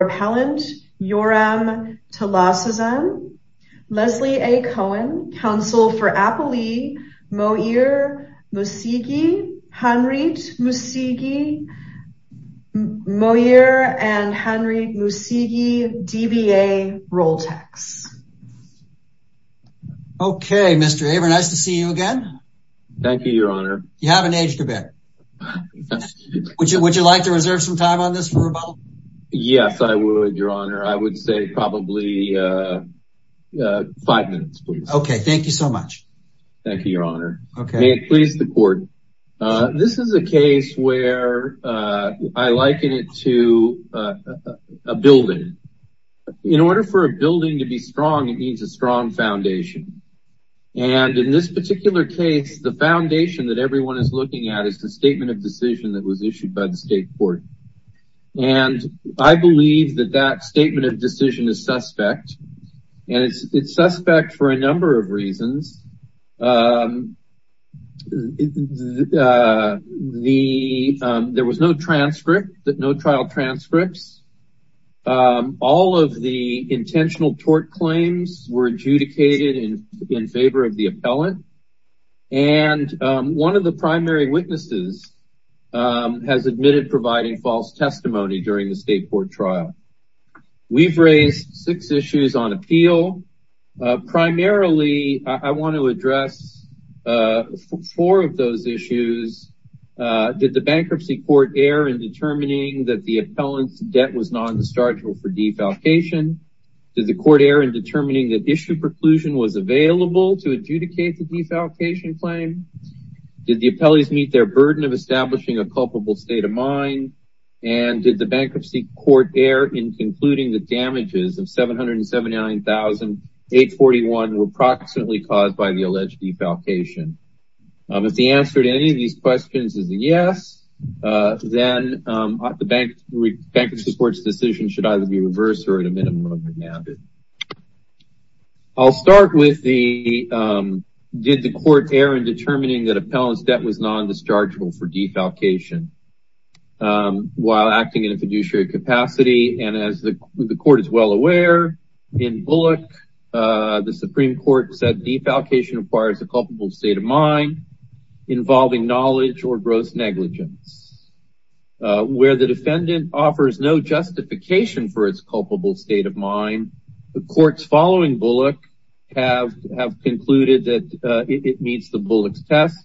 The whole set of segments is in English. repellent YORAM TALASAZAN. Leslie A. Cohen, counsel for Appley, Mohir Musigi, Hanrit Musigi, Mohir and Hanrit Musigi, DBA Roltex. Okay, Mr. Aver, nice to see you again. Thank you, Your Honor. You haven't aged a bit. Would you like to reserve some time on this for rebuttal? Yes, I would, Your Honor. I would say probably five minutes, please. Okay, thank you so much. Thank you, Your Honor. May it please the court. This is a case where I liken it to a building. In order for a building to be strong, it needs a strong foundation. And in this particular case, the foundation that everyone is looking at is a statement of decision that was issued by the state court. And I believe that that statement of decision is suspect. And it's suspect for a number of reasons. There was no trial transcripts. All of the intentional tort claims were adjudicated in favor of the appellant. And one of the primary witnesses has admitted providing false testimony during the state court trial. We've raised six issues on appeal. Primarily, I want to address four of those issues. Did the bankruptcy court err in determining that the appellant's debt was non-destructible for defalcation? Did the court err in determining that issue preclusion was defalcation claim? Did the appellants meet their burden of establishing a culpable state of mind? And did the bankruptcy court err in concluding that damages of $779,841 were approximately caused by the alleged defalcation? If the answer to any of these questions is yes, then the bankruptcy court's decision should either be reversed or at a minimum remanded. I'll start with the did the court err in determining that appellant's debt was non-destructible for defalcation while acting in a fiduciary capacity. And as the court is well aware, in Bullock, the Supreme Court said defalcation requires a culpable state of mind involving knowledge or gross negligence. Where the defendant offers no justification for its culpable state of mind, the courts following Bullock have concluded that it meets the Bullock's test.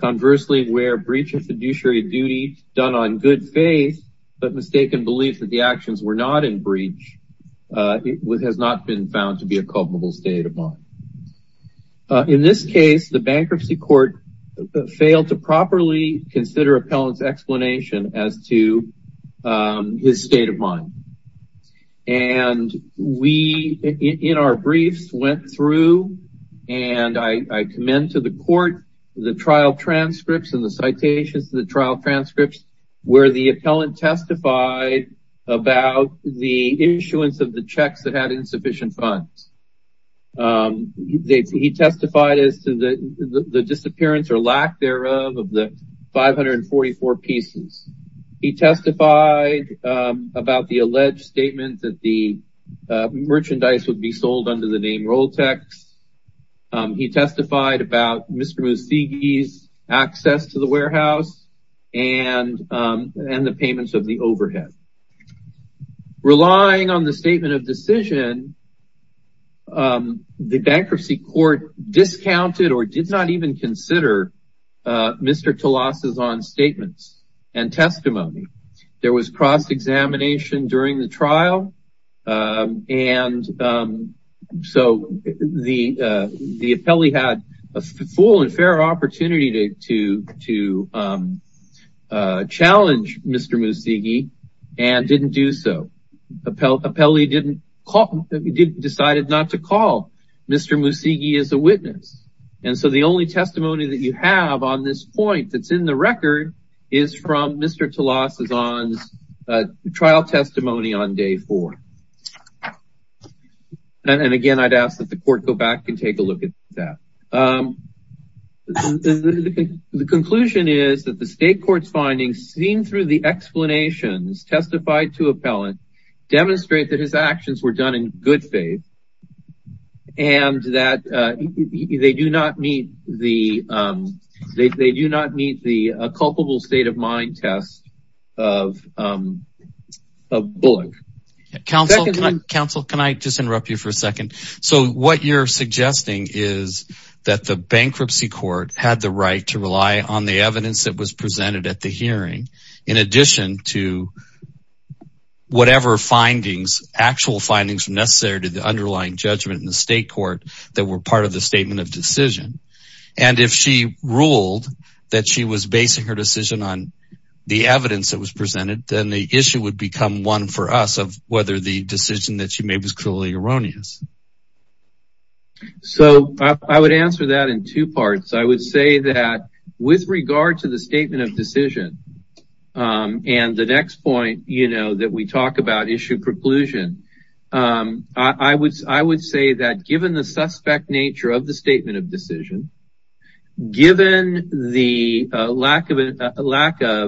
Conversely, where breach of fiduciary duty done on good faith but mistaken belief that the actions were not in breach, it has not been found to be a culpable state of mind. In this case, the bankruptcy court failed to properly consider appellant's explanation as to his state of mind. And we, in our briefs, went through and I commend to the court the trial transcripts and the citations of the trial transcripts where the appellant testified about the issuance of the of the 544 pieces. He testified about the alleged statement that the merchandise would be sold under the name Roltex. He testified about Mr. Musugi's access to the warehouse and the payments of the overhead. Relying on the statement of decision, the bankruptcy court discounted or did not even consider Mr. Telassa's own statements and testimony. There was cross-examination during the trial and so the appellee had a decided not to call Mr. Musugi as a witness. And so the only testimony that you have on this point that's in the record is from Mr. Telassa's trial testimony on day four. And again, I'd ask that the court go back and take a look at that. The conclusion is that the state court's findings seen through the explanations testified to appellant demonstrate that his actions were done in good faith and that they do not meet the culpable state of mind test of Bullock. Counsel, can I just interrupt you for a second? So what you're suggesting is that the bankruptcy court had the right to rely on the evidence that was presented at the hearing in addition to whatever findings, actual findings necessary to the underlying judgment in the state court that were part of the statement of decision. And if she ruled that she was basing her decision on the evidence that was presented, then the issue would become one for us of whether the decision that she made was clearly erroneous. So I would answer that in two parts. I would say that with regard to the statement of decision and the next point, you know, that we talk about issue preclusion, I would say that given the suspect nature of the statement of decision, given the lack of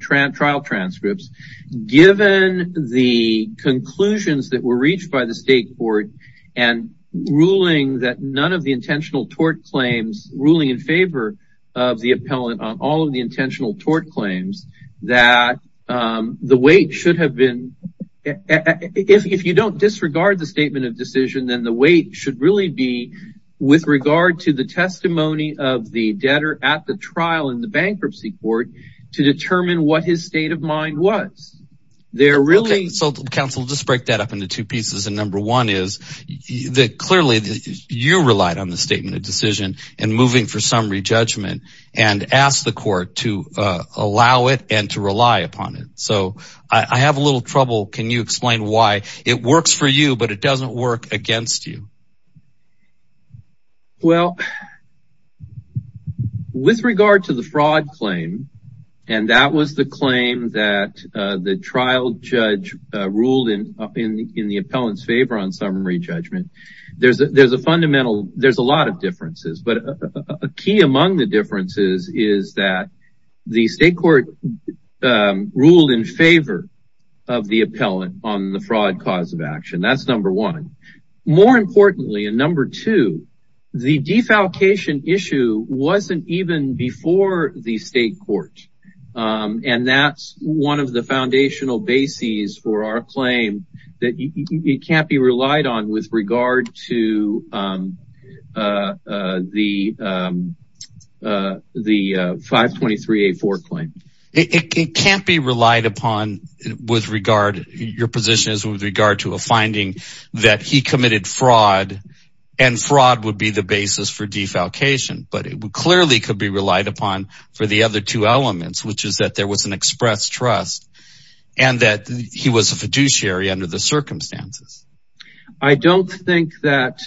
trial transcripts, given the conclusions that were reached by the state court and ruling that none of the intentional tort claims, ruling in favor of the appellant on all of the intentional tort claims, that the weight should have been, if you don't disregard the statement of decision, then the weight should really be with regard to the testimony of the debtor at the trial in the bankruptcy court to determine what his state of mind was. They're really... So counsel, just break that up into two pieces. And number one is that clearly you relied on the statement of decision and moving for summary judgment and ask the court to allow it and to rely upon it. So I have a little trouble. Can you explain why it works for you, but it doesn't work against you? Well, with regard to the fraud claim, and that was the claim that the trial judge ruled in the appellant's favor on summary judgment, there's a fundamental, there's a lot of differences, but a key among the differences is that the state court ruled in favor of the appellant on the fraud cause of action. That's number one. More importantly, and number two, the defalcation issue wasn't even before the state court. And that's one of the foundational bases for our claim that it can't be relied on with regard to the 523A4 claim. It can't be relied upon with regard, your position is with regard to a finding that he committed fraud and fraud would be the basis for defalcation, but it clearly could be relied upon for the other two elements, which is that there was an express trust and that he was a fiduciary under the circumstances. I don't think that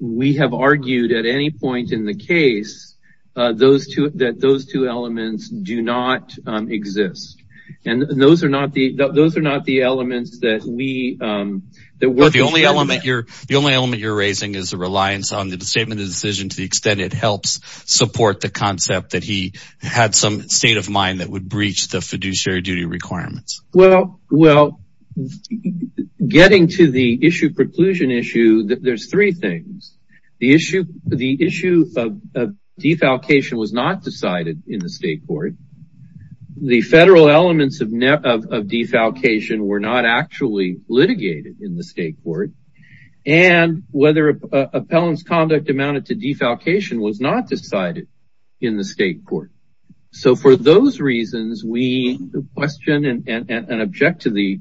we have argued at any point in the case that those two elements do not exist. And those are not the elements that we... The only element you're raising is the reliance on the statement of decision to the extent it helps support the concept that he had some state of mind that would breach the fiduciary duty requirements. Well, getting to the issue, preclusion issue, there's three things. The issue of defalcation was not decided in the state court. The federal elements of defalcation were not actually litigated in the state court. And whether appellant's conduct amounted to defalcation was not decided in the state court. So for those reasons, we question and object to the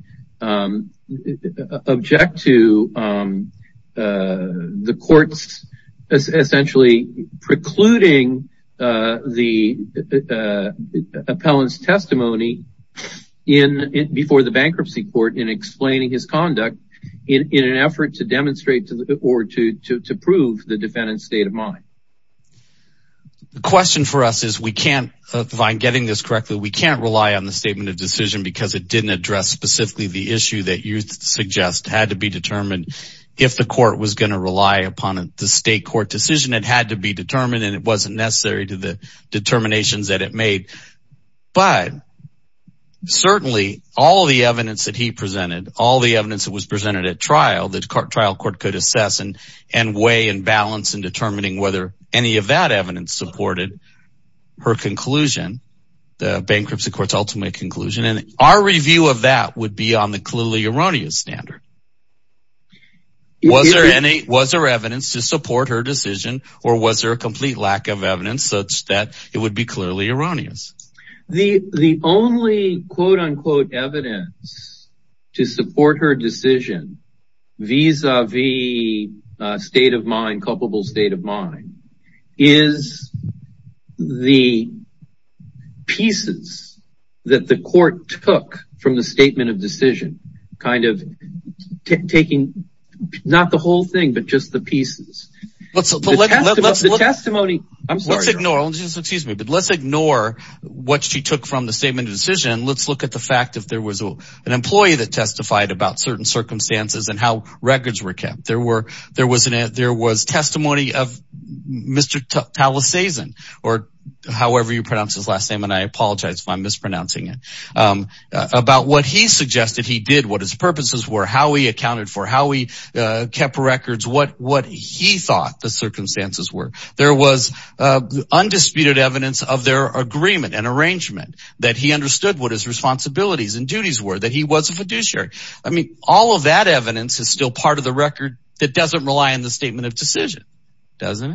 courts essentially precluding the appellant's testimony before the bankruptcy court in explaining his conduct in an effort to demonstrate or to prove the defendant's state of mind. The question for us is we can't, if I'm getting this correctly, we can't rely on the statement of decision because it didn't address specifically the issue that you suggest had to be determined if the court was going to rely upon the state court decision. It had to be determined and it wasn't necessary to the determinations that it made. But certainly all the evidence that he presented, all the evidence that was presented at trial, the trial court could assess and weigh and determine whether any of that evidence supported her conclusion, the bankruptcy court's ultimate conclusion. And our review of that would be on the clearly erroneous standard. Was there evidence to support her decision or was there a complete lack of evidence such that it would be clearly erroneous? The only quote unquote evidence to support her decision vis-a-vis a state of mind, culpable state of mind, is the pieces that the court took from the statement of decision, kind of taking not the whole thing, but just the pieces. But let's ignore what she took from the statement of decision. Let's look at the fact that there records were kept. There was testimony of Mr. Palisades, or however you pronounce his last name, and I apologize if I'm mispronouncing it, about what he suggested he did, what his purposes were, how he accounted for, how he kept records, what he thought the circumstances were. There was undisputed evidence of their agreement and arrangement that he understood what his still part of the record that doesn't rely on the statement of decision, doesn't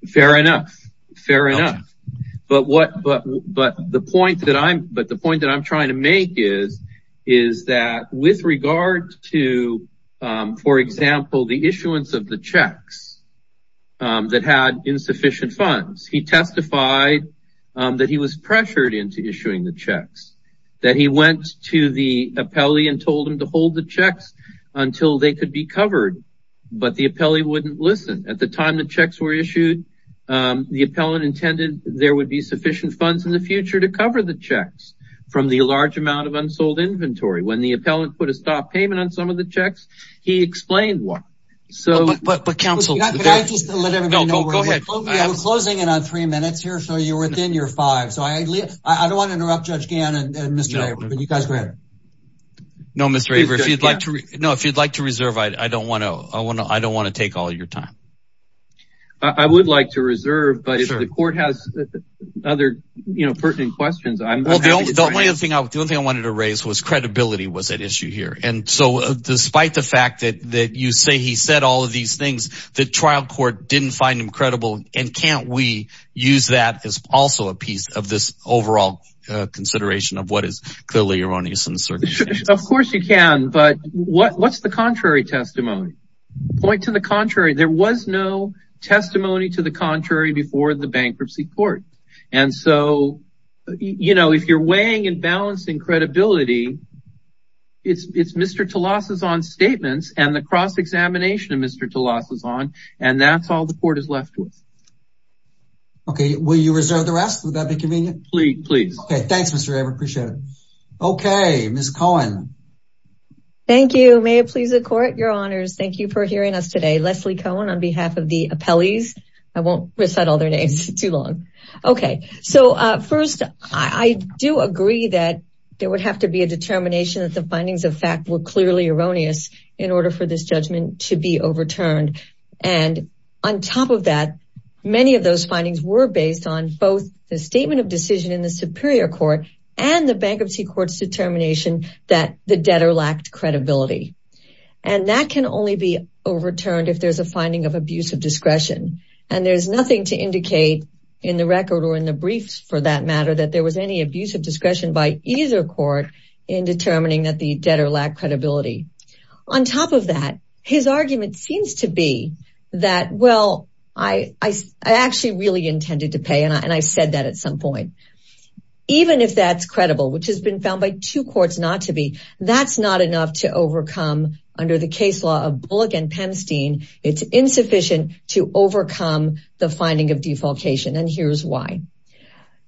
it? Fair enough. Fair enough. But the point that I'm trying to make is that with regard to, for example, the issuance of the checks that had insufficient funds, he testified that he was pressured into issuing the checks, that he went to the appellee and told him to hold the checks until they could be covered, but the appellee wouldn't listen. At the time the checks were issued, the appellant intended there would be sufficient funds in the future to cover the checks from the large amount of unsold inventory. When the appellant put a stop payment on some of the checks, he explained why. But counsel, can I just let everybody know, we're closing in on three minutes here, so you're within your five, so I don't want to interrupt Judge Gannon and Mr. No, if you'd like to reserve, I don't want to take all your time. I would like to reserve, but if the court has other pertinent questions, I'm happy to try it. The only thing I wanted to raise was credibility was at issue here. And so despite the fact that you say he said all of these things, the trial court didn't find him credible, and can't we use that as also a piece of this overall consideration of what is clearly erroneous Of course you can, but what's the contrary testimony? Point to the contrary. There was no testimony to the contrary before the bankruptcy court. And so, you know, if you're weighing and balancing credibility, it's Mr. Telassa's on statements and the cross-examination of Mr. Telassa's on, and that's all the court is left with. Okay, will you reserve the rest? Would that Ms. Cohen? Thank you. May it please the court, your honors. Thank you for hearing us today. Leslie Cohen on behalf of the appellees. I won't recite all their names too long. Okay, so first, I do agree that there would have to be a determination that the findings of fact were clearly erroneous in order for this judgment to be overturned. And on top of that, many of those findings were based on both the statement of decision in the superior court and the bankruptcy court's determination that the debtor lacked credibility. And that can only be overturned if there's a finding of abuse of discretion. And there's nothing to indicate in the record or in the briefs for that matter, that there was any abuse of discretion by either court in determining that the debtor lacked credibility. On top of that, his argument seems to be that, well, I actually really intended to pay and I said that at some point. Even if that's credible, which has been found by two courts not to be, that's not enough to overcome under the case law of Bullock and Pemstein. It's insufficient to overcome the finding of defalcation. And here's why.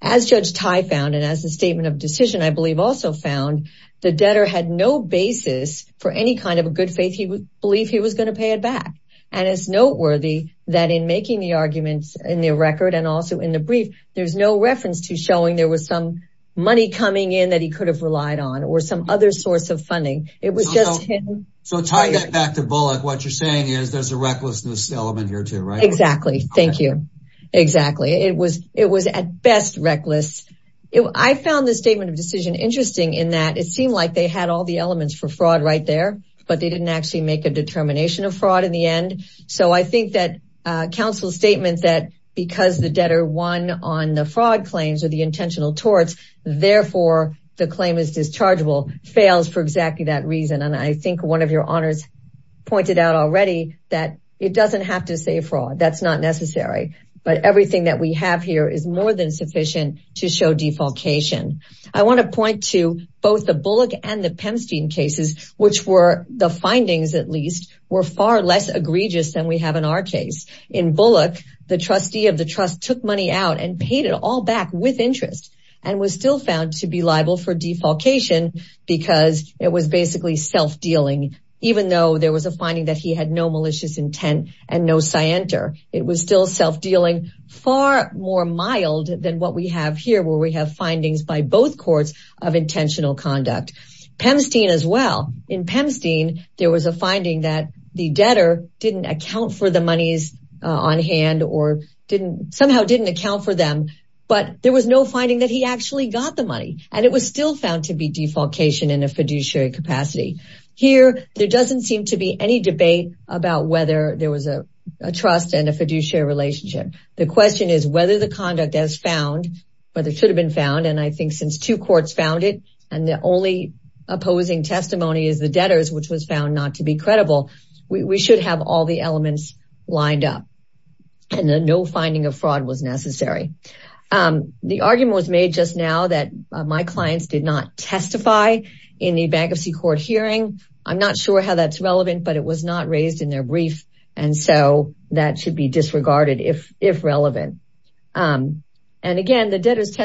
As Judge Tai found, and as the statement of decision, I believe also found, the debtor had no basis for any kind of a good faith he would believe he was going to pay it back. And it's noteworthy that in making the arguments in the record and also in the brief, there's no reference to showing there was some money coming in that he could have relied on or some other source of funding. It was just him. So Tai got back to Bullock. What you're saying is there's a recklessness element here too, right? Exactly. Thank you. Exactly. It was at best reckless. I found the statement of decision interesting in that it seemed like they had all the elements for fraud right there, but they didn't actually make a determination of on the fraud claims or the intentional torts. Therefore the claim is dischargeable, fails for exactly that reason. And I think one of your honors pointed out already that it doesn't have to say fraud, that's not necessary, but everything that we have here is more than sufficient to show defalcation. I want to point to both the Bullock and the Pemstein cases, which were the findings at least were far less egregious than we have in our case. In Bullock, the trustee of the trust took money out and paid it all back with interest and was still found to be liable for defalcation because it was basically self-dealing. Even though there was a finding that he had no malicious intent and no scienter, it was still self-dealing far more mild than what we have here where we have findings by both courts of intentional conduct. Pemstein as well. In Pemstein, there was a finding that the debtor didn't account for the monies on hand or somehow didn't account for them, but there was no finding that he actually got the money and it was still found to be defalcation in a fiduciary capacity. Here there doesn't seem to be any debate about whether there was a trust and a fiduciary relationship. The question is whether the conduct has found, whether it should have been found, and I think since two courts found it and the only opposing testimony is the debtor's which was found not to be credible, we should have all the elements lined up and no finding of fraud was necessary. The argument was made just now that my clients did not testify in the bankruptcy court hearing. I'm not sure how that's relevant, but it was not raised in their brief and so that should be disregarded if relevant. And again, the debtor's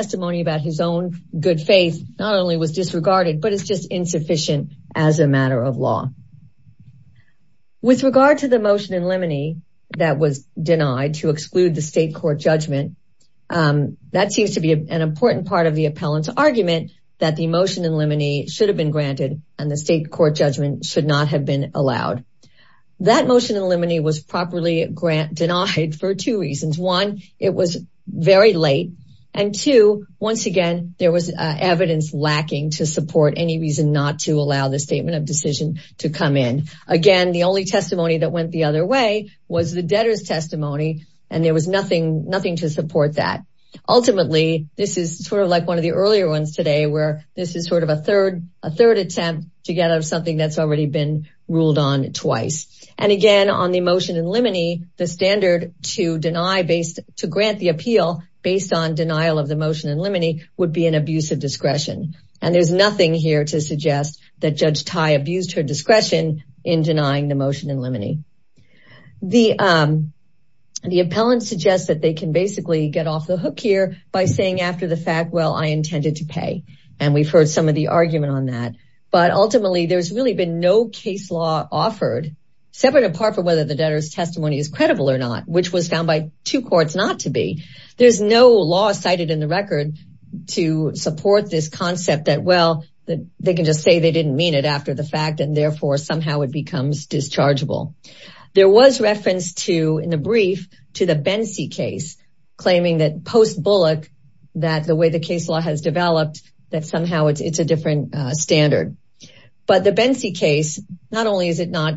good faith not only was disregarded, but it's just insufficient as a matter of law. With regard to the motion in limine that was denied to exclude the state court judgment, that seems to be an important part of the appellant's argument that the motion in limine should have been granted and the state court judgment should not have been allowed. That motion in limine was properly denied for two reasons. One, it was very late and two, once again, there was evidence lacking to support any reason not to allow the statement of decision to come in. Again, the only testimony that went the other way was the debtor's testimony and there was nothing to support that. Ultimately, this is sort of like one of the earlier ones today where this is sort of a third attempt to get out of something that's already been ruled on twice. And again, on the motion in limine, the standard to grant the appeal based on denial of the motion in limine would be an abuse of discretion. And there's nothing here to suggest that Judge Tai abused her discretion in denying the motion in limine. The appellant suggests that they can basically get off the hook here by saying after the fact, well, I intended to pay. And we've heard some of the argument on that. But ultimately, there's really been no case law offered separate apart from whether the debtor's testimony is credible or not, which was found by two courts not to be. There's no law cited in the record to support this concept that, well, they can just say they didn't mean it after the fact and therefore somehow it becomes dischargeable. There was reference to, in the brief, to the Bensey case, claiming that post Bullock, that the way the case law has developed, that somehow it's a different standard. But the Bensey case, not only is it not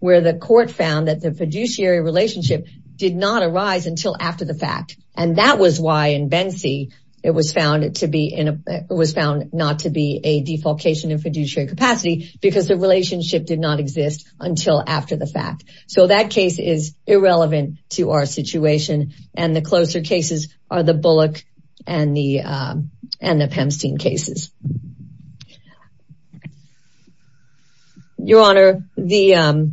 where the court found that the fiduciary relationship did not arise until after the fact. And that was why in Bensey, it was found to be in a, it was found not to be a defalcation in fiduciary capacity because the relationship did not exist until after the fact. So that case is irrelevant to our situation. And the closer cases are the Bullock and the and the Pemstein cases. Your Honor, the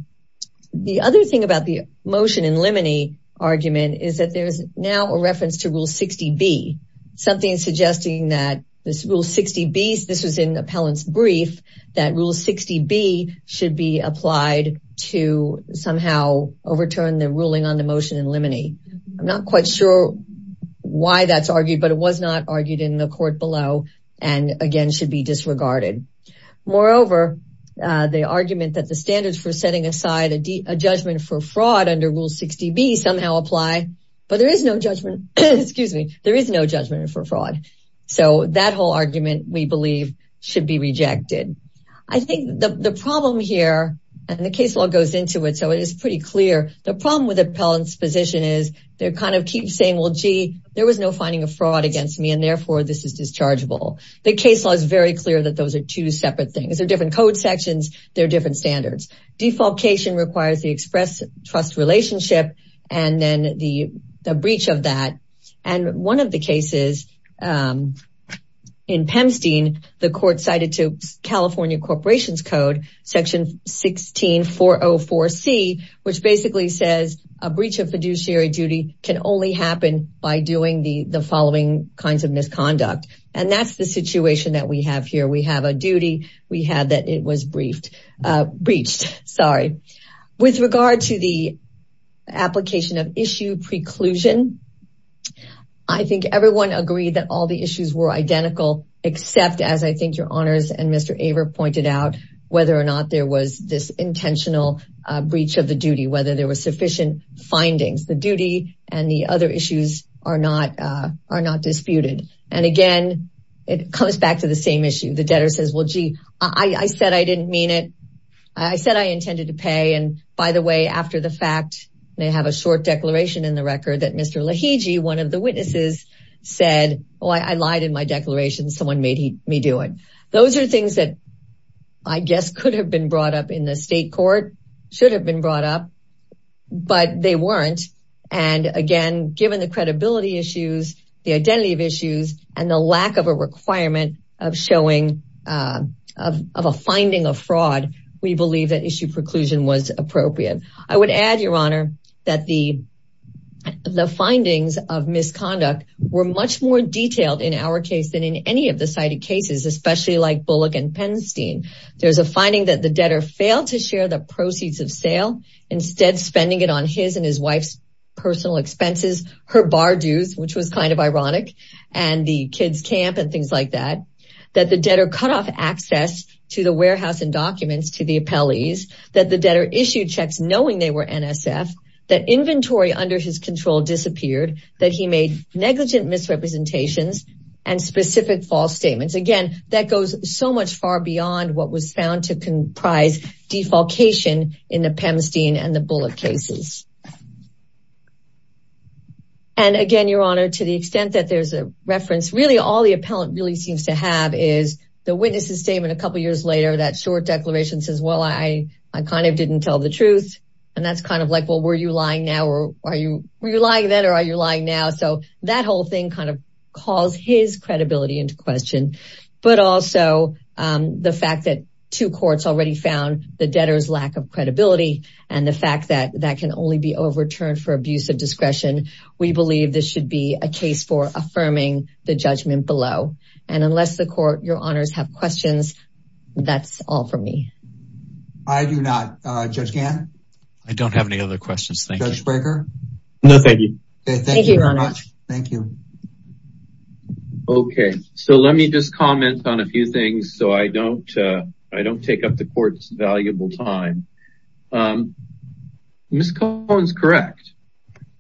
other thing about the motion in limine argument is that there's now a reference to Rule 60B, something suggesting that this Rule 60B, this was in the appellant's brief, that Rule 60B should be applied to somehow overturn the ruling on the motion in limine. I'm not quite sure why that's argued, but it was not argued in the court below. And again, should be disregarded. Moreover, the argument that the standards for setting aside a judgment for fraud under Rule 60B somehow apply, but there is no judgment, excuse me, there is no judgment for fraud. So that whole argument, we believe, should be rejected. I think the problem here, and the case law goes into it, so it is pretty clear. The problem with the appellant's position is they're kind of keep saying, well, gee, there was no finding of fraud against me, and therefore this is dischargeable. The case law is very clear that those are two separate things. They're different code sections. They're different standards. Defalcation requires the express trust relationship and then the breach of that. And one of the cases in Pemstein, the court cited to California Corporations Code, Section 16404C, which basically says a breach of fiduciary duty can only happen by doing the following kinds of misconduct. And that's the situation that we have here. We have a duty, we have that it was breached. With regard to the application of issue preclusion, I think everyone agreed that all the issues were identical, except as I think your honors and Mr. Aver pointed out, whether or not there was this intentional breach of the duty, whether there was sufficient findings. The duty and the other issues are not disputed. And again, it comes back to the same issue. The debtor says, well, gee, I said I didn't mean it. I said I intended to pay. And by the way, after the fact, they have a short declaration in the record that Mr. Lahegee, one of the witnesses said, well, I lied in my declaration. Someone made me do it. Those are things that I guess could have been brought up in the state court, should have been brought up, but they weren't. And again, given the credibility issues, the identity of issues and the lack of a requirement of showing of a finding of fraud, we believe that issue preclusion was appropriate. I would add, your honor, that the findings of misconduct were much more detailed in our case than in any of the cited cases, especially like Bullock and Penstein. There's a finding that the debtor failed to share the proceeds of sale, instead spending it on his and his wife's personal expenses, her bar dues, which was kind of ironic, and the kid's camp and things like that, that the debtor cut off access to the warehouse and documents to the appellees, that the debtor checks knowing they were NSF, that inventory under his control disappeared, that he made negligent misrepresentations and specific false statements. Again, that goes so much far beyond what was found to comprise defalcation in the Penstein and the Bullock cases. And again, your honor, to the extent that there's a reference, really all the appellant really seems to have is the witness's statement a couple of years later, that short declaration says, well, I kind of didn't tell the truth. And that's kind of like, well, were you lying now or are you, were you lying then or are you lying now? So that whole thing kind of calls his credibility into question. But also the fact that two courts already found the debtor's lack of credibility and the fact that that can only be overturned for abuse of discretion. We believe this should be a case for affirming the judgment below. And unless the court, your honors have questions, that's all for me. I do not. Judge Gann? I don't have any other questions. Thank you. Judge Spraker? No, thank you. Okay, thank you very much. Thank you. Okay. So let me just comment on a few things so I don't take up the court's valuable time. Ms. Cohen's correct.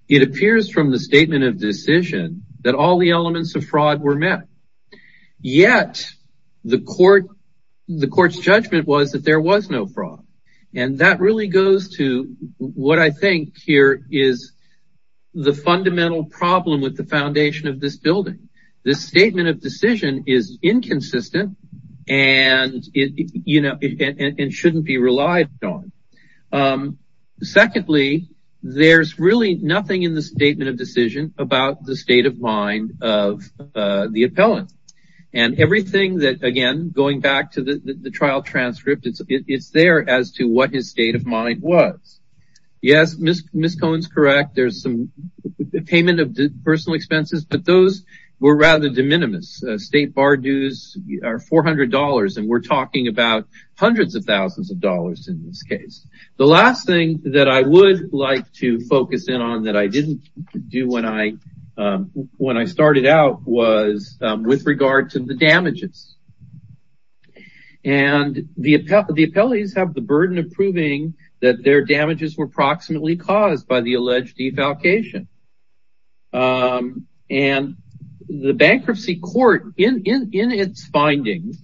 It appears from the statement of decision that all the elements of fraud were met. Yet the court's judgment was that there was no fraud. And that really goes to what I think here is the fundamental problem with the foundation of this building. This statement of decision is inconsistent and shouldn't be relied on. Secondly, there's really nothing in the statement of decision about the state of mind of the appellant. And everything that, again, going back to the trial transcript, it's there as to what his state of mind was. Yes, Ms. Cohen's correct. There's some payment of personal expenses. But those were rather de minimis. State bar dues are $400. And we're talking about hundreds of thousands of dollars in this case. The last thing that I would like to focus in on that I didn't do when I started out was with regard to the damages. And the appellees have the burden of proving that their damages were proximately caused by the alleged defalcation. And the bankruptcy court, in its findings,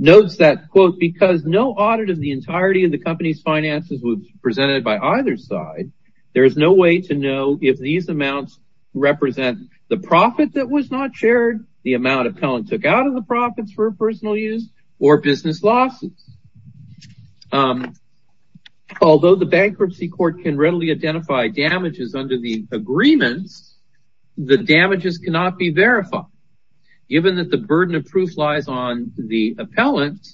notes that, quote, because no audit of the entirety of the company's finances was presented by either side, there's no way to know if these amounts represent the profit that was not shared, the amount appellant took out of the profits for is under the agreements, the damages cannot be verified. Given that the burden of proof lies on the appellant,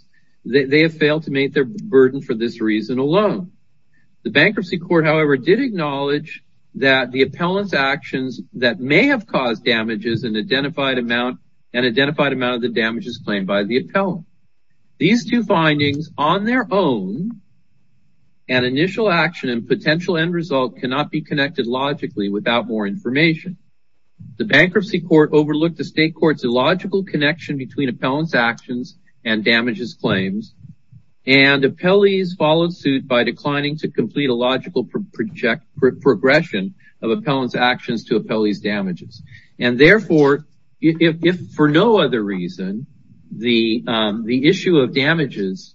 they have failed to meet their burden for this reason alone. The bankruptcy court, however, did acknowledge that the appellant's actions that may have caused damages an identified amount of the damages claimed by the appellant. These two findings on their own, an initial action and potential end result cannot be connected logically without more information. The bankruptcy court overlooked the state court's illogical connection between appellant's actions and damages claims. And appellees followed suit by declining to complete a logical progression of appellant's actions to appellee's damages. And therefore, if for no other reason, the issue of damages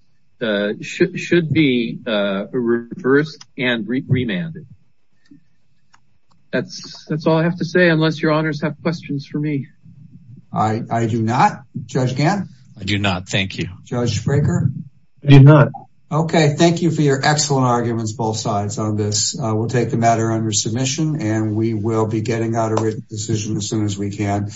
should be reversed and remanded. That's all I have to say unless your honors have questions for me. I do not. Judge Gant? I do not. Thank you. Judge Fraker? I do not. Okay, thank you for your excellent arguments both sides on this. We'll take the matter under submission and we will be getting out a written decision as soon as we can.